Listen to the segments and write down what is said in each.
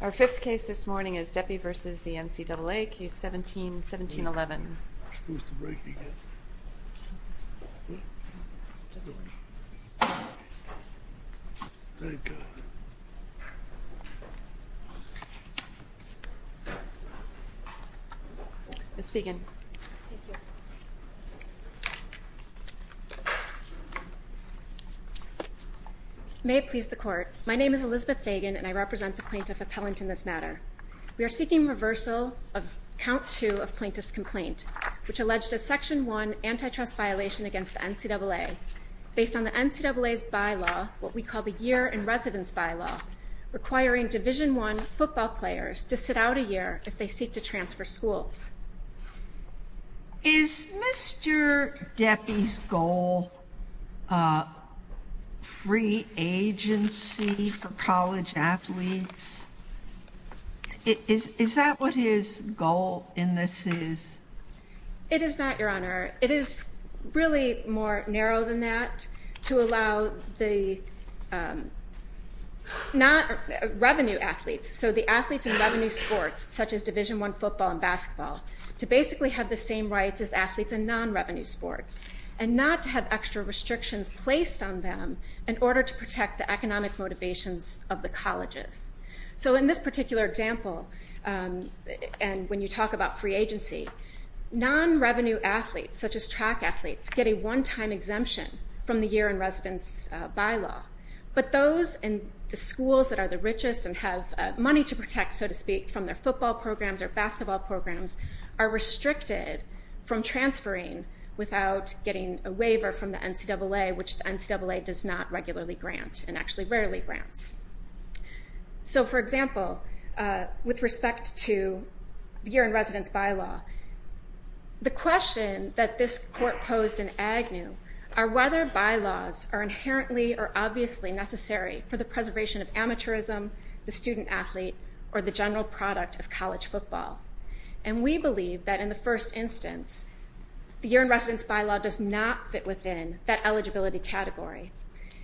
Our fifth case this morning is Deppe v. the NCAA, Case 17-1711. May it please the court, my name is Elizabeth Fagan and I represent the plaintiff appellant in this matter. We are seeking reversal of Count 2 of Plaintiff's Complaint, which alleged a Section 1 antitrust violation against the NCAA, based on the NCAA's bylaw, what we call the Year in Residence Bylaw, requiring Division 1 football players to sit out a year if they seek to transfer schools. Is Mr. Deppe's goal a free agency for college athletes? Is that what his goal in this is? It is not, Your Honor. It is really more narrow than that, to allow the not revenue athletes, so the athletes in revenue sports, such as Division 1 football and basketball, to basically have the same rights as athletes in non-revenue sports, and not to have extra restrictions placed on them in order to protect the economic motivations of the colleges. So in this particular example, and when you talk about free agency, non-revenue athletes, such as track athletes, get a one-time exemption from the Year in Residence Bylaw, but those in the schools that are the richest and have money to protect, so to speak, from their football programs or basketball programs, are restricted from transferring without getting a waiver from the NCAA, which the NCAA does not regularly grant, and actually rarely grants. So for example, with respect to the Year in Residence Bylaw, the question that this Court posed in Agnew are whether bylaws are inherently or obviously necessary for the preservation of amateurism, the student-athlete, or the general product of college football. And we believe that in the first instance, the Year in Residence Bylaw does not fit within that eligibility category.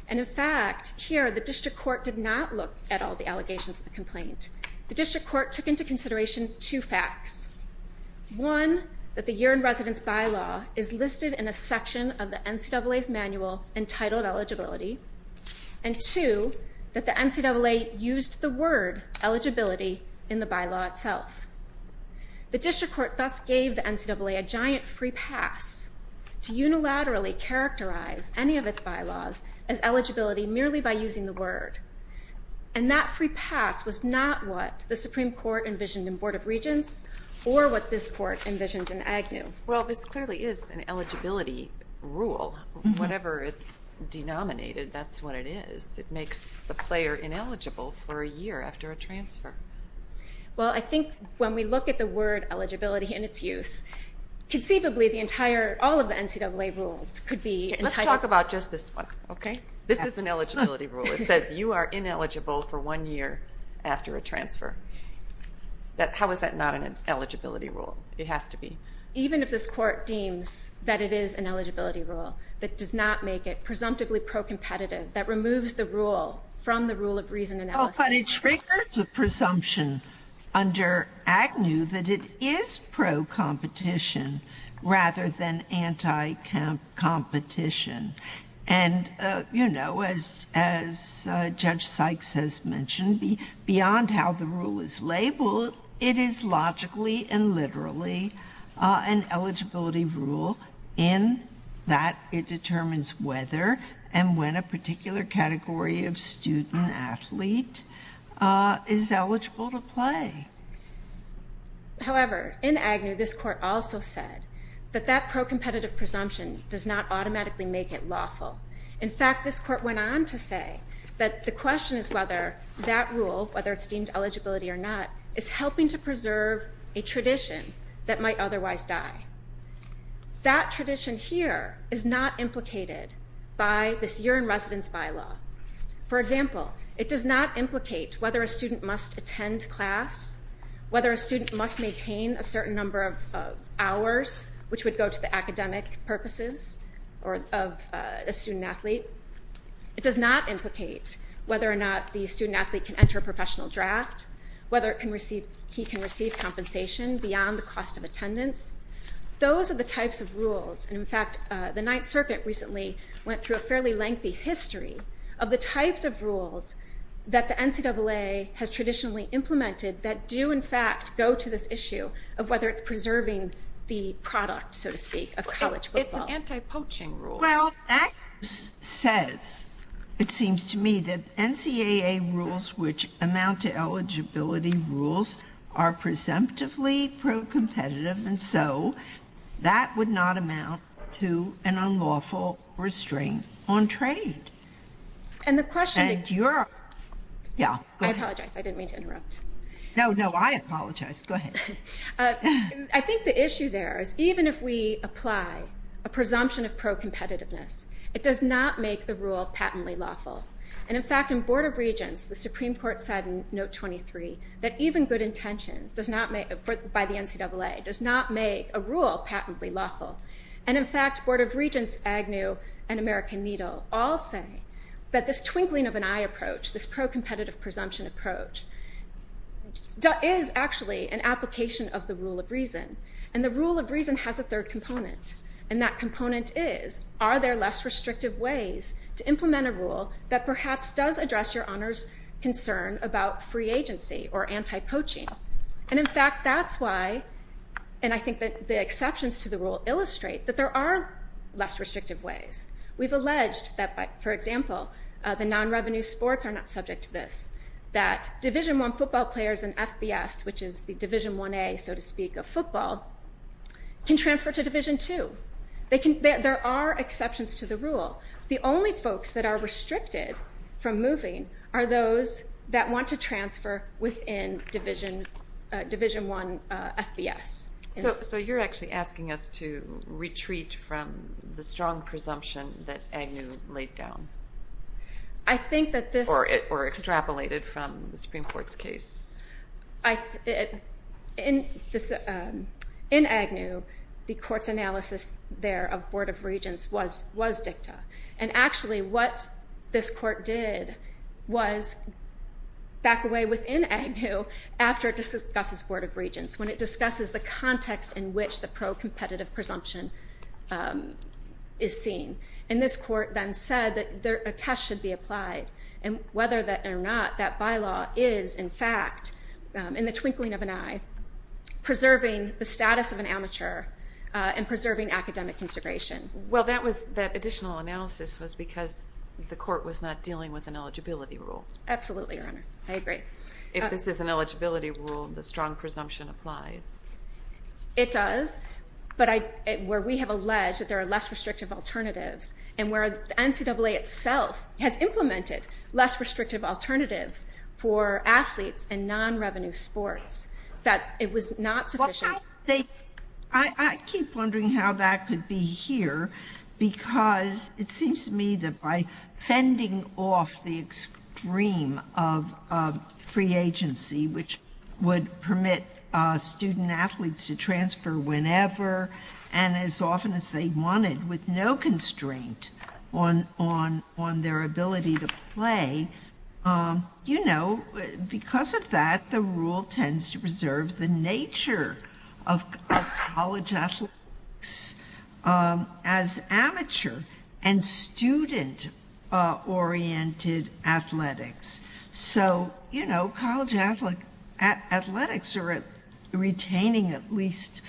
And in fact, here, the District Court did not look at all the allegations of the complaint. The District Court took into consideration two facts, one, that the Year in Residence Bylaw is listed in a section of the NCAA's manual entitled eligibility, and two, that the NCAA used the word eligibility in the bylaw itself. The District Court thus gave the NCAA a giant free pass to unilaterally characterize any of its bylaws as eligibility merely by using the word. And that free pass was not what the Supreme Court envisioned in Board of Regents or what this Court envisioned in Agnew. Well, this clearly is an eligibility rule. Whatever it's denominated, that's what it is. It makes the player ineligible for a year after a transfer. Well, I think when we look at the word eligibility and its use, conceivably the entire, all of the NCAA rules could be entitled. Let's talk about just this one, okay? This is an eligibility rule. It says you are ineligible for one year after a transfer. How is that not an eligibility rule? It has to be. Even if this Court deems that it is an eligibility rule, that does not make it presumptively pro-competitive, that removes the rule from the rule of reason analysis. Oh, but it triggers a presumption under Agnew that it is pro-competition rather than anti-competition. And you know, as Judge Sykes has mentioned, beyond how the rule is labeled, it is logically and literally an eligibility rule in that it determines whether and when a particular category of student athlete is eligible to play. However, in Agnew, this Court also said that that pro-competitive presumption does not automatically make it lawful. In fact, this Court went on to say that the question is whether that rule, whether it's a tradition that might otherwise die. That tradition here is not implicated by this year-in-residence bylaw. For example, it does not implicate whether a student must attend class, whether a student must maintain a certain number of hours, which would go to the academic purposes of a student athlete. It does not implicate whether or not the student athlete can enter a professional draft, whether it can receive, he can receive compensation beyond the cost of attendance. Those are the types of rules. And in fact, the Ninth Circuit recently went through a fairly lengthy history of the types of rules that the NCAA has traditionally implemented that do, in fact, go to this issue of whether it's preserving the product, so to speak, of college football. It's an anti-poaching rule. Well, that says, it seems to me, that NCAA rules which amount to eligibility rules are presumptively pro-competitive, and so that would not amount to an unlawful restraint on trade. And the question— And you're— I apologize. I didn't mean to interrupt. No, no. I apologize. Go ahead. I think the issue there is even if we apply a presumption of pro-competitiveness, it does not make the rule patently lawful. And in fact, in Board of Regents, the Supreme Court said in Note 23 that even good intentions does not make, by the NCAA, does not make a rule patently lawful. And in fact, Board of Regents, Agnew, and American Needle all say that this twinkling of an eye approach, this pro-competitive presumption approach, is actually an application of the rule of reason. And the rule of reason has a third component, and that component is, are there less restrictive ways to implement a rule that perhaps does address your honor's concern about free agency or anti-poaching? And in fact, that's why, and I think that the exceptions to the rule illustrate that there are less restrictive ways. We've alleged that, for example, the non-revenue sports are not subject to this, that Division 1 football players and FBS, which is the Division 1A, so to speak, of football, can transfer to Division 2. There are exceptions to the rule. The only folks that are restricted from moving are those that want to transfer within Division 1 FBS. So you're actually asking us to retreat from the strong presumption that Agnew laid down. I think that this- Or extrapolated from the Supreme Court's case. In Agnew, the court's analysis there of Board of Regents was dicta. And actually, what this court did was back away within Agnew after it discusses Board of Regents. When it discusses the context in which the pro-competitive presumption is seen. And this court then said that a test should be applied, and whether or not that bylaw is in fact, in the twinkling of an eye, preserving the status of an amateur and preserving academic integration. Well, that additional analysis was because the court was not dealing with an eligibility rule. Absolutely, your honor. I agree. If this is an eligibility rule, the strong presumption applies. It does. But where we have alleged that there are less restrictive alternatives, and where NCAA itself has implemented less restrictive alternatives for athletes and non-revenue sports, that it was not sufficient. I keep wondering how that could be here, because it seems to me that by fending off the extreme of free agency, which would permit student athletes to transfer whenever, and as often as they wanted, with no constraint on their ability to play. You know, because of that, the rule tends to preserve the nature of college athletics as amateur and student-oriented athletics. So you know, college athletics are retaining at least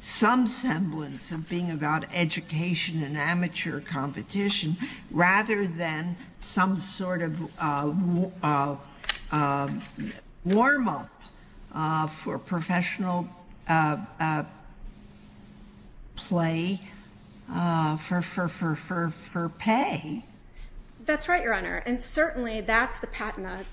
some semblance of being about education and amateur competition, rather than some sort of warm-up for professional play for pay. That's right, your honor. And certainly that's the patina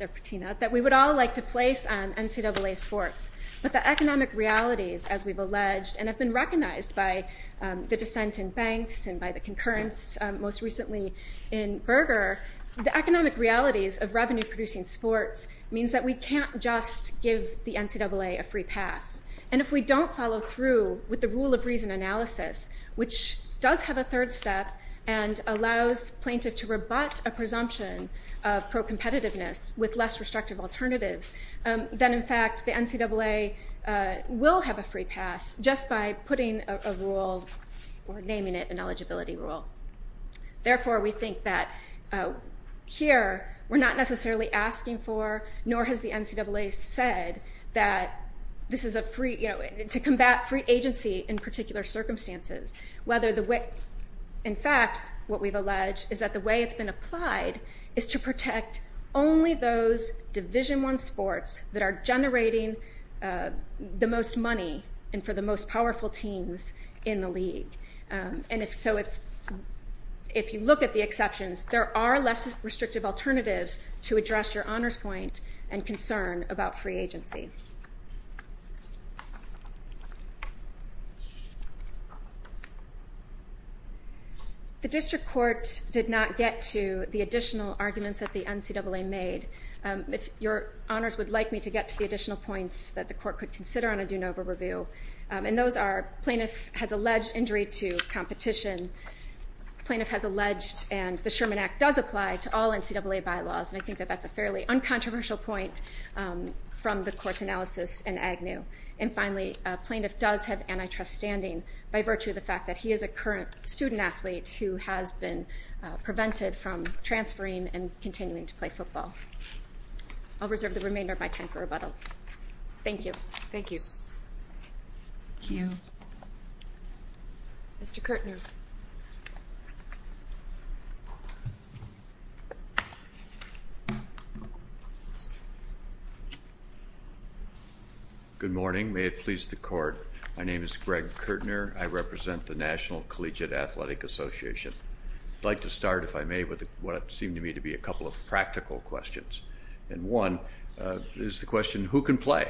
that we would all like to place on NCAA sports. But the economic realities, as we've alleged, and have been recognized by the dissent in and by the concurrence most recently in Berger, the economic realities of revenue-producing sports means that we can't just give the NCAA a free pass. And if we don't follow through with the rule of reason analysis, which does have a third step, and allows plaintiff to rebut a presumption of pro-competitiveness with less restrictive alternatives, then in fact the NCAA will have a free pass just by putting a rule, or naming it an eligibility rule. Therefore we think that here we're not necessarily asking for, nor has the NCAA said, that this is a free, you know, to combat free agency in particular circumstances. Whether the way, in fact, what we've alleged is that the way it's been applied is to protect only those Division I sports that are generating the most money and for the most powerful teams in the league. And if so, if you look at the exceptions, there are less restrictive alternatives to address your honors point and concern about free agency. The district court did not get to the additional arguments that the NCAA made. If your honors would like me to get to the additional points that the court could consider on a de novo review, and those are plaintiff has alleged injury to competition, plaintiff has alleged and the Sherman Act does apply to all NCAA bylaws, and I think that that's a fairly uncontroversial point from the court's analysis in Agnew. And finally, a plaintiff does have antitrust standing by virtue of the fact that he is a current student athlete who has been prevented from transferring and continuing to play football. I'll reserve the remainder of my time for rebuttal. Thank you. Thank you. Thank you. Mr. Kirtner. Good morning. May it please the court. My name is Greg Kirtner. I represent the National Collegiate Athletic Association. I'd like to start, if I may, with what seem to me to be a couple of practical questions. And one is the question, who can play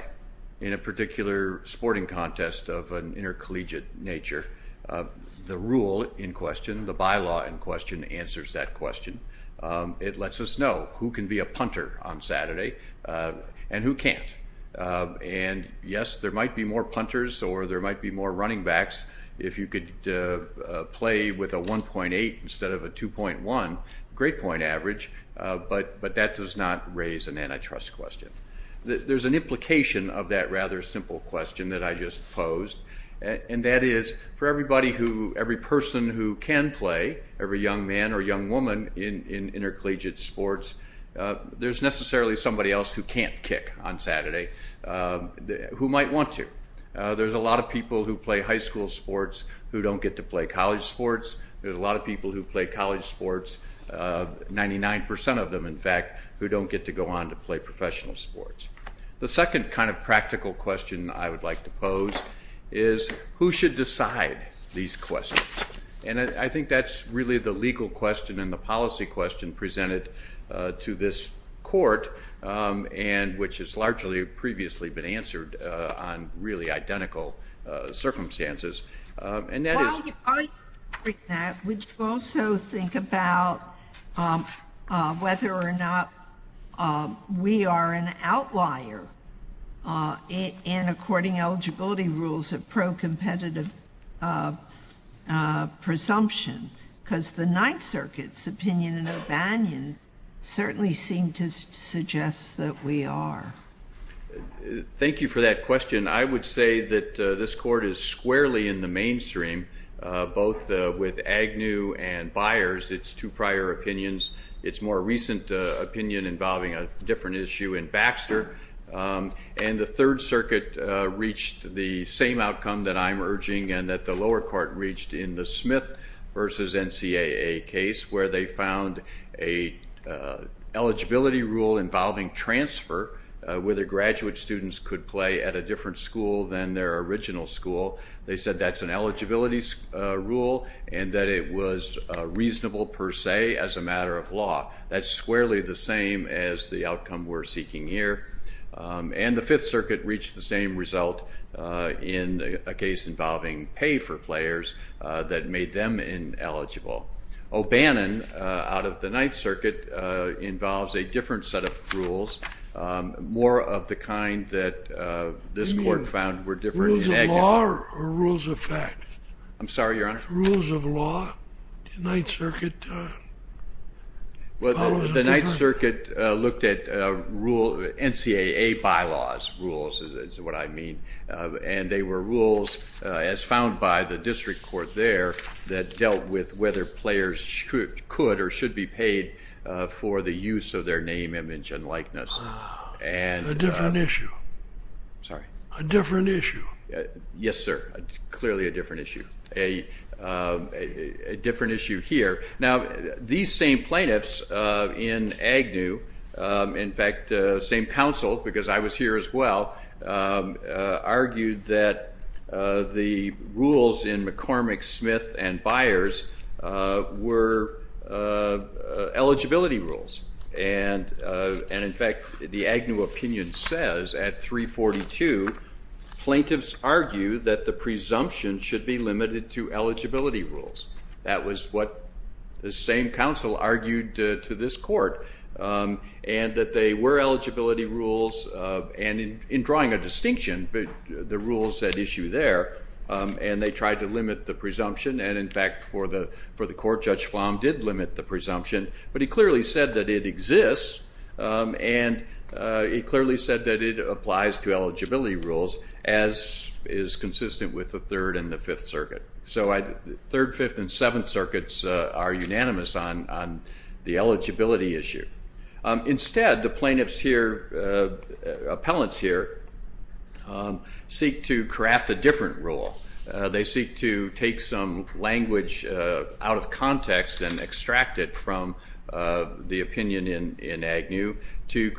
in a particular sporting contest of an intercollegiate nature? The rule in question, the bylaw in question, answers that question. It lets us know who can be a punter on Saturday and who can't. And yes, there might be more punters or there might be more running backs if you could play with a 1.8 instead of a 2.1, great point average, but that does not raise an antitrust question. There's an implication of that rather simple question that I just posed, and that is for everybody who, every person who can play, every young man or young woman in intercollegiate sports, there's necessarily somebody else who can't kick on Saturday who might want to. There's a lot of people who play high school sports who don't get to play college sports. There's a lot of people who play college sports, 99 percent of them in fact, who don't get to go on to play professional sports. The second kind of practical question I would like to pose is who should decide these questions? And I think that's really the legal question and the policy question presented to this court, and which has largely previously been answered on really identical circumstances, and that is... Well, I agree with that. Would you also think about whether or not we are an outlier in according eligibility rules of pro-competitive presumption? Because the Ninth Circuit's opinion in O'Banion certainly seemed to suggest that we are. Thank you for that question. I would say that this court is squarely in the mainstream, both with Agnew and Byers, its two prior opinions. Its more recent opinion involving a different issue in Baxter. And the Third Circuit reached the same outcome that I'm urging and that the lower court reached in the Smith versus NCAA case where they found an eligibility rule involving transfer whether graduate students could play at a different school than their original school. They said that's an eligibility rule and that it was reasonable per se as a matter of law. That's squarely the same as the outcome we're seeking here. And the Fifth Circuit reached the same result in a case involving pay for players that made them ineligible. O'Banion, out of the Ninth Circuit, involves a different set of rules, more of the kind that this court found were different in Agnew. Rules of law or rules of fact? I'm sorry, Your Honor? Rules of law. Ninth Circuit follows a different... The Ninth Circuit looked at NCAA bylaws, rules is what I mean, and they were rules as found by the district court there that dealt with whether players could or should be paid for the use of their name, image, and likeness. A different issue. Sorry? A different issue. Yes, sir. It's clearly a different issue. A different issue here. Now, these same plaintiffs in Agnew, in fact, same counsel, because I was here as well, argued that the rules in McCormick, Smith, and Byers were eligibility rules. And in fact, the Agnew opinion says at 342, plaintiffs argue that the presumption should be limited to eligibility rules. That was what the same counsel argued to this court, and that they were eligibility rules, and in drawing a distinction, the rules at issue there, and they tried to limit the presumption, and in fact, for the court, Judge Flom did limit the presumption, but he clearly said that it exists, and he clearly said that it applies to eligibility rules, as is consistent with the Third and the Fifth Circuit. So Third, Fifth, and Seventh Circuits are unanimous on the eligibility issue. Instead, the plaintiffs here, appellants here, seek to craft a different rule. They seek to take some language out of context and extract it from the opinion in Agnew to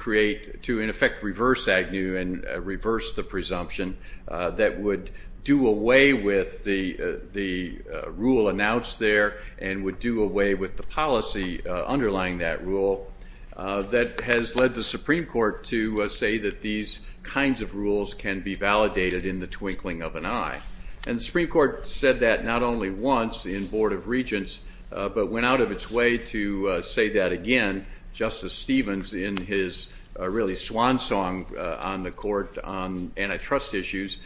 in effect reverse Agnew and reverse the presumption that would do away with the rule announced there and would do away with the policy underlying that rule that has led the Supreme Court to say that these kinds of rules can be validated in the twinkling of an eye. And the Supreme Court said that not only once in Board of Regents, but went out of its way to say that again, Justice Stevens, in his really swan song on the court, on antitrust issues,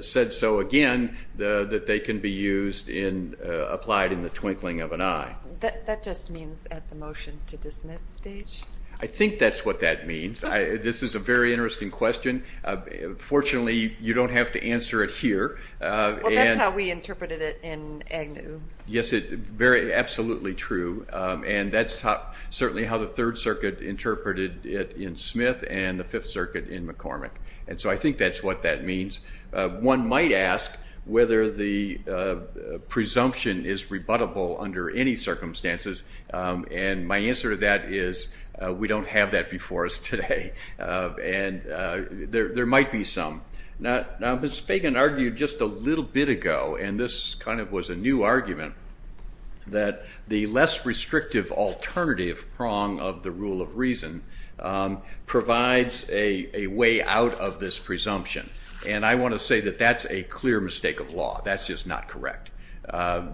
said so again, that they can be used and applied in the twinkling of an eye. That just means at the motion to dismiss stage? I think that's what that means. This is a very interesting question. Fortunately, you don't have to answer it here. Well, that's how we interpreted it in Agnew. Yes, absolutely true. And that's certainly how the Third Circuit interpreted it in Smith and the Fifth Circuit in McCormick. And so I think that's what that means. One might ask whether the presumption is rebuttable under any circumstances. And my answer to that is we don't have that before us today. And there might be some. Now, Ms. Fagan argued just a little bit ago, and this kind of was a new argument, that the less restrictive alternative prong of the rule of reason provides a way out of this presumption. And I want to say that that's a clear mistake of law. That's just not correct.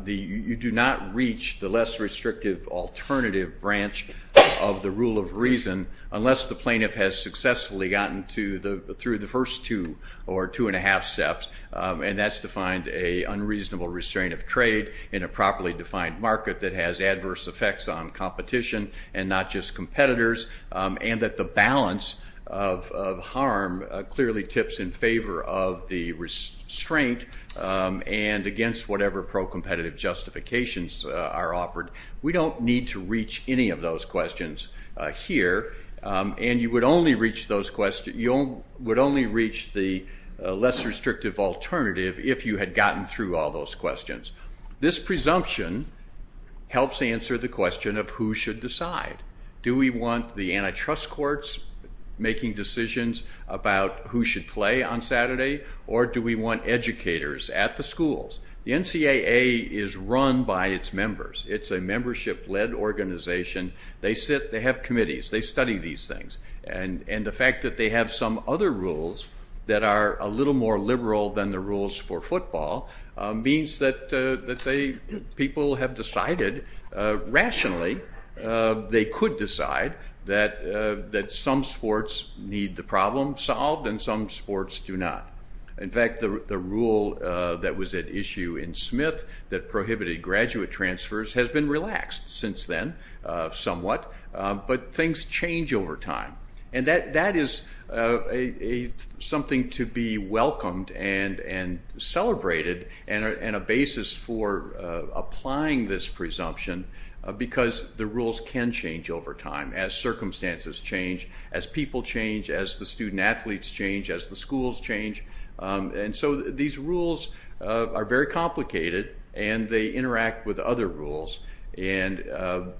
You do not reach the less restrictive alternative branch of the rule of reason unless the plaintiff has successfully gotten through the first two or two and a half steps. And that's defined a unreasonable restraint of trade in a properly defined market that has adverse effects on competition and not just competitors, and that the balance of harm clearly tips in favor of the restraint and against whatever pro-competitive justifications are offered. We don't need to reach any of those questions here. And you would only reach the less restrictive alternative if you had gotten through all those questions. This presumption helps answer the question of who should decide. Do we want the antitrust courts making decisions about who should play on Saturday, or do we want educators at the schools? The NCAA is run by its members. It's a membership-led organization. They have committees. They study these things. And the fact that they have some other rules that are a little more liberal than the rules for football means that people have decided rationally they could decide that some sports need the problem solved and some sports do not. In fact, the rule that was at issue in Smith that prohibited graduate transfers has been relaxed since then somewhat, but things change over time. And that is something to be welcomed and celebrated and a basis for applying this presumption because the rules can change over time as circumstances change, as people change, as the student-athletes change, as the schools change. And so these rules are very complicated and they interact with other rules. And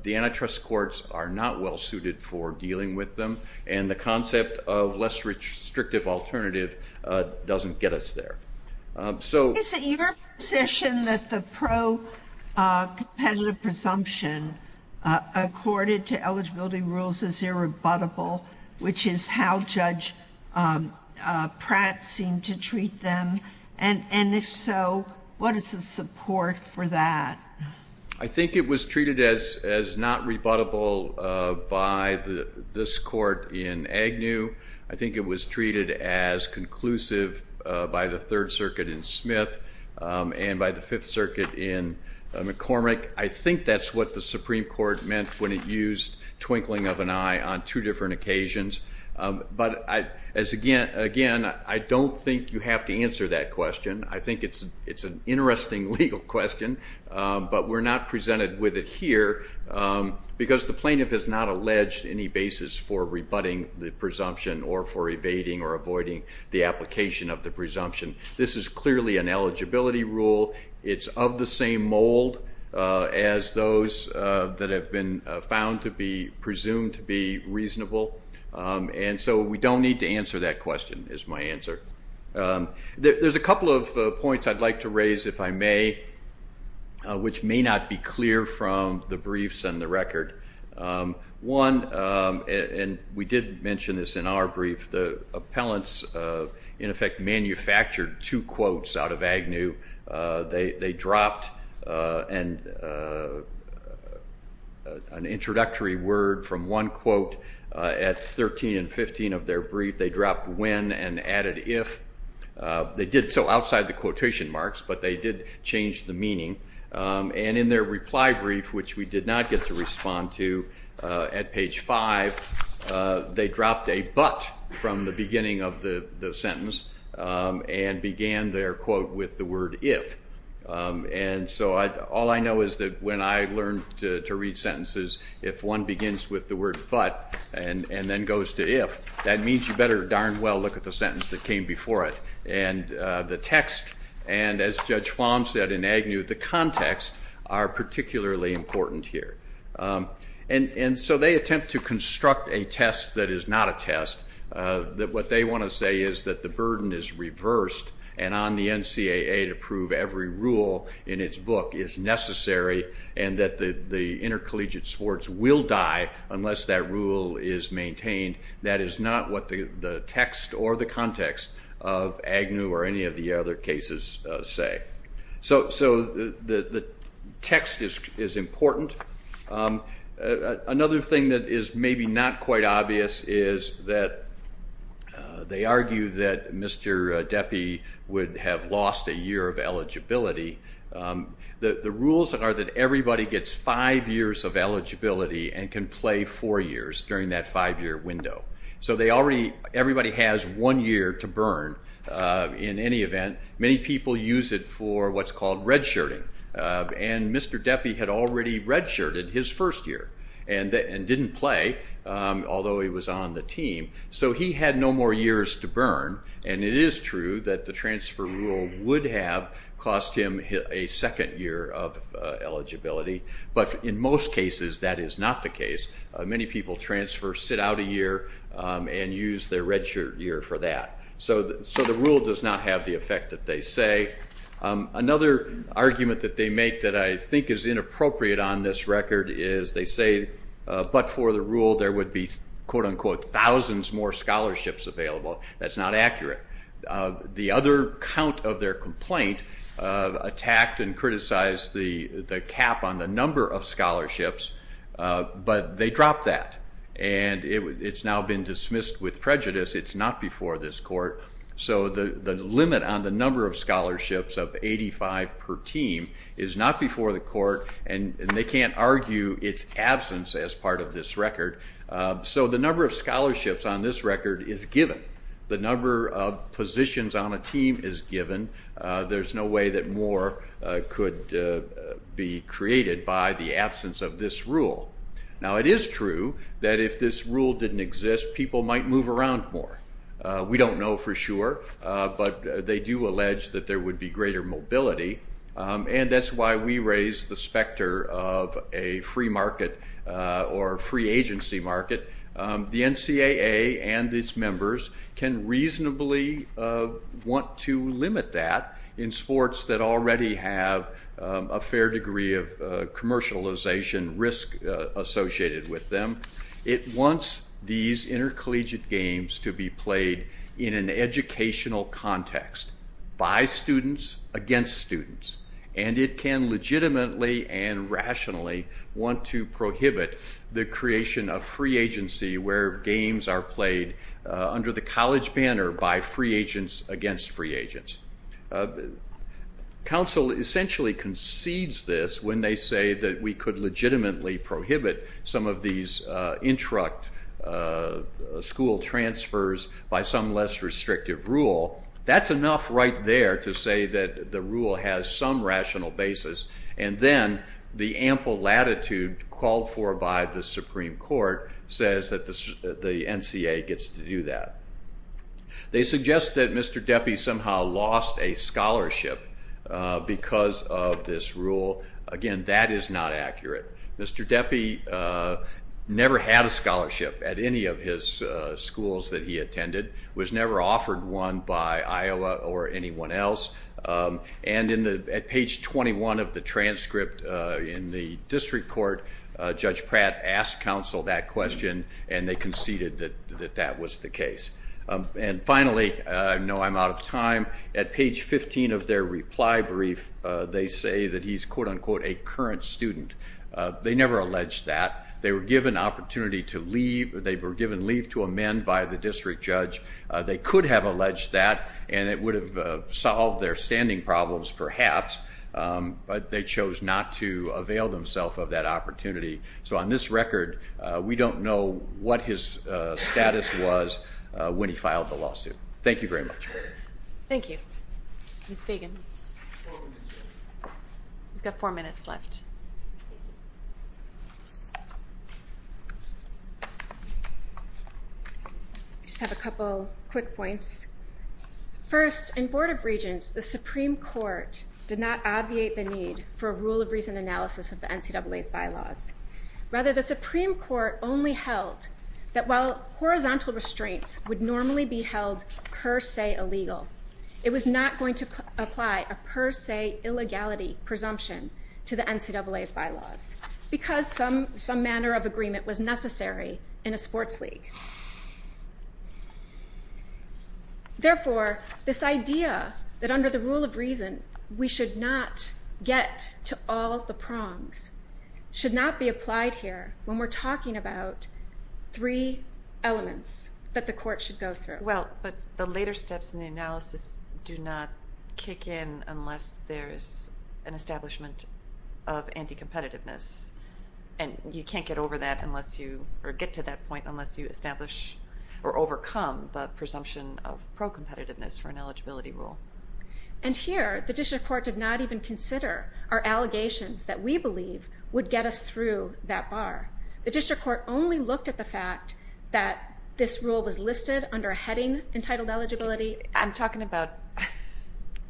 the antitrust courts are not well-suited for dealing with them. And the concept of less restrictive alternative doesn't get us there. Is it your position that the pro-competitive presumption accorded to eligibility rules is irrebuttable, which is how Judge Pratt seemed to treat them? And if so, what is the support for that? I think it was treated as not rebuttable by this court in Agnew. I think it was treated as conclusive by the Third Circuit in Smith and by the Fifth Circuit in McCormick. I think that's what the Supreme Court meant when it used twinkling of an eye on two different occasions. But again, I don't think you have to answer that question. I think it's an interesting legal question, but we're not presented with it here because the plaintiff has not alleged any basis for rebutting the presumption or for evading or avoiding the application of the presumption. This is clearly an eligibility rule. It's of the same mold as those that have been found to be presumed to be reasonable. And so we don't need to answer that question is my answer. There's a couple of points I'd like to raise, if I may, which may not be clear from the briefs and the record. One, and we did mention this in our brief, the appellants in effect manufactured two quotes out of Agnew. They dropped an introductory word from one quote at 13 and 15 of their brief. They dropped when and added if. They did so outside the quotation marks, but they did change the meaning. And in their reply brief, which we did not get to respond to, at page 5, they dropped a but from the beginning of the sentence and began their quote with the word if. And so all I know is that when I learned to read sentences, if one begins with the word but and then goes to if, that means you better darn well look at the sentence that came before it. And the text, and as Judge Fahm said in Agnew, the context are particularly important here. And so they attempt to construct a test that is not a test, that what they want to say is that the burden is reversed and on the NCAA to prove every rule in its book is necessary and that the intercollegiate sports will die unless that rule is maintained. That is not what the text or the context of Agnew or any of the other cases say. So the text is important. Another thing that is maybe not quite obvious is that they argue that Mr. Deppie would have lost a year of eligibility. The rules are that everybody gets five years of eligibility and can play four years during that five-year window. So they already, everybody has one year to burn in any event. Many people use it for what's called redshirting. And Mr. Deppie had already redshirted his first year and didn't play, although he was on the team. So he had no more years to burn, and it is true that the transfer rule would have cost him a second year of eligibility, but in most cases that is not the case. Many people transfer, sit out a year, and use their redshirt year for that. So the rule does not have the effect that they say. Another argument that they make that I think is inappropriate on this record is they say, but for the rule, there would be, quote-unquote, thousands more scholarships available. That's not accurate. The other count of their complaint attacked and criticized the cap on the number of scholarships, but they dropped that, and it's now been dismissed with prejudice. It's not before this court. So the limit on the number of scholarships of 85 per team is not before the court, and they can't argue its absence as part of this record. So the number of scholarships on this record is given. The number of positions on a team is given. There's no way that more could be created by the absence of this rule. Now it is true that if this rule didn't exist, people might move around more. We don't know for sure, but they do allege that there would be greater mobility, and that's why we raise the specter of a free market or a free agency market. The NCAA and its members can reasonably want to limit that in sports that already have a fair degree of commercialization risk associated with them. It wants these intercollegiate games to be played in an educational context, by students, against students, and it can legitimately and rationally want to prohibit the creation of free agency where games are played under the college banner by free agents against free agents. Council essentially concedes this when they say that we could legitimately prohibit some of these interrupt school transfers by some less restrictive rule. That's enough right there to say that the rule has some rational basis, and then the ample latitude called for by the Supreme Court says that the NCAA gets to do that. They suggest that Mr. Deppie somehow lost a scholarship because of this rule. Again, that is not accurate. Mr. Deppie never had a scholarship at any of his schools that he attended, was never offered one by Iowa or anyone else, and at page 21 of the transcript in the district court, Judge Pratt asked council that question and they conceded that that was the case. And finally, I know I'm out of time, at page 15 of their reply brief, they say that he's quote-unquote a current student. They never allege that. They were given leave to amend by the district judge they could have alleged that, and it would have solved their standing problems perhaps, but they chose not to avail themselves of that opportunity. So on this record, we don't know what his status was when he filed the lawsuit. Thank you very much. Thank you. Ms. Fagan. Four minutes left. We've got four minutes left. I just have a couple quick points. First, in Board of Regents, the Supreme Court did not obviate the need for a rule of reason analysis of the NCAA's bylaws. Rather, the Supreme Court only held that while horizontal restraints would normally be held per se illegal, it was not going to apply a per se illegality presumption to the NCAA's bylaws because some manner of agreement was necessary in a sports league. Therefore, this idea that under the rule of reason we should not get to all the prongs should not be applied here when we're talking about three elements that the court should go through. Well, but the later steps in the analysis do not kick in unless there's an establishment of anti-competitiveness, and you can't get over that unless you, or get to that point, unless you establish or overcome the presumption of pro-competitiveness for an eligibility rule. And here, the district court did not even consider our allegations that we believe would get us through that bar. The district court only looked at the fact that this rule was listed under a heading entitled eligibility. I'm talking about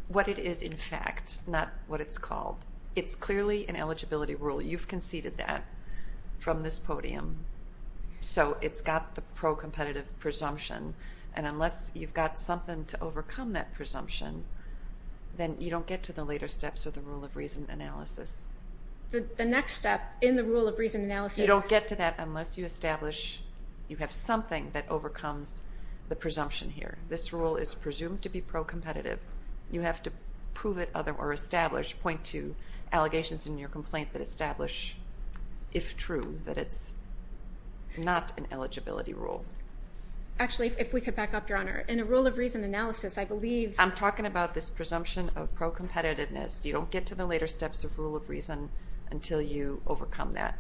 what it is in fact, not what it's called. It's clearly an eligibility rule. You've conceded that from this podium. So it's got the pro-competitive presumption, and unless you've got something to overcome that presumption, then you don't get to the later steps of the rule of reason analysis. The next step in the rule of reason analysis... You don't get to that unless you establish you have something that overcomes the presumption here. This rule is presumed to be pro-competitive. You have to prove it or establish, point to allegations in your complaint that establish, if true, that it's not an eligibility rule. Actually, if we could back up, Your Honor. In a rule of reason analysis, I believe... I'm talking about this presumption of pro-competitiveness. You don't get to the later steps of rule of reason until you overcome that.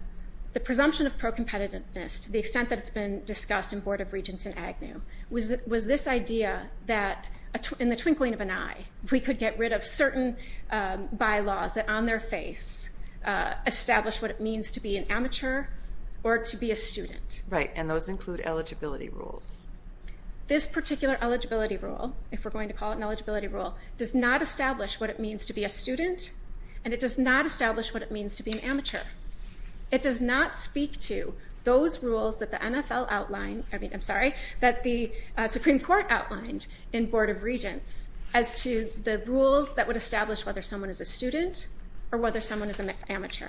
The presumption of pro-competitiveness, to the extent that it's been discussed in Board of Regents and AGNU, was this idea that, in the twinkling of an eye, we could get rid of certain bylaws that, on their face, establish what it means to be an amateur or to be a student. Right, and those include eligibility rules. This particular eligibility rule, if we're going to call it an eligibility rule, does not establish what it means to be a student, and it does not establish what it means to be an amateur. It does not speak to those rules that the NFL outlined... I'm sorry, that the Supreme Court outlined in Board of Regents as to the rules that would establish whether someone is a student or whether someone is an amateur.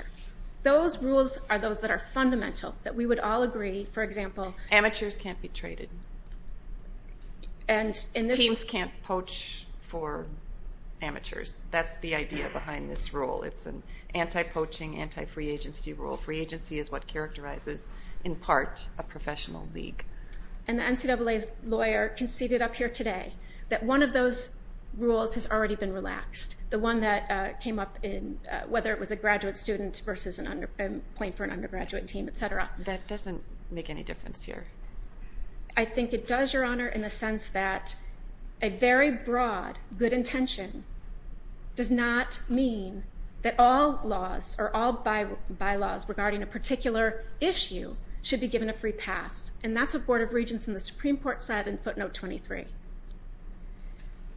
Those rules are those that are fundamental, that we would all agree, for example... Amateurs can't be traded. Teams can't poach for amateurs. That's the idea behind this rule. It's an anti-poaching, anti-free agency rule. Free agency is what characterizes, in part, a professional league. And the NCAA's lawyer conceded up here today that one of those rules has already been relaxed, the one that came up in... whether it was a graduate student versus playing for an undergraduate team, etc. That doesn't make any difference here. I think it does, Your Honor, in the sense that a very broad good intention does not mean that all laws or all bylaws regarding a particular issue should be given a free pass. And that's what Board of Regents and the Supreme Court said in footnote 23.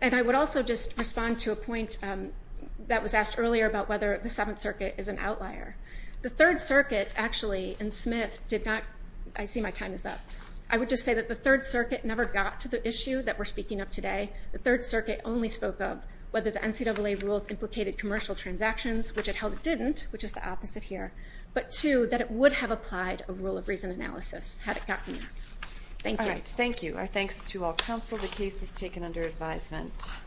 And I would also just respond to a point that was asked earlier about whether the Seventh Circuit is an outlier. The Third Circuit, actually, and Smith did not... I see my time is up. I would just say that the Third Circuit never got to the issue that we're speaking of today. The Third Circuit only spoke of whether the NCAA rules implicated commercial transactions, which it held it didn't, which is the opposite here, but two, that it would have applied a rule of reason analysis had it gotten there. Thank you. All right, thank you. Our thanks to all counsel. The case is taken under advisement.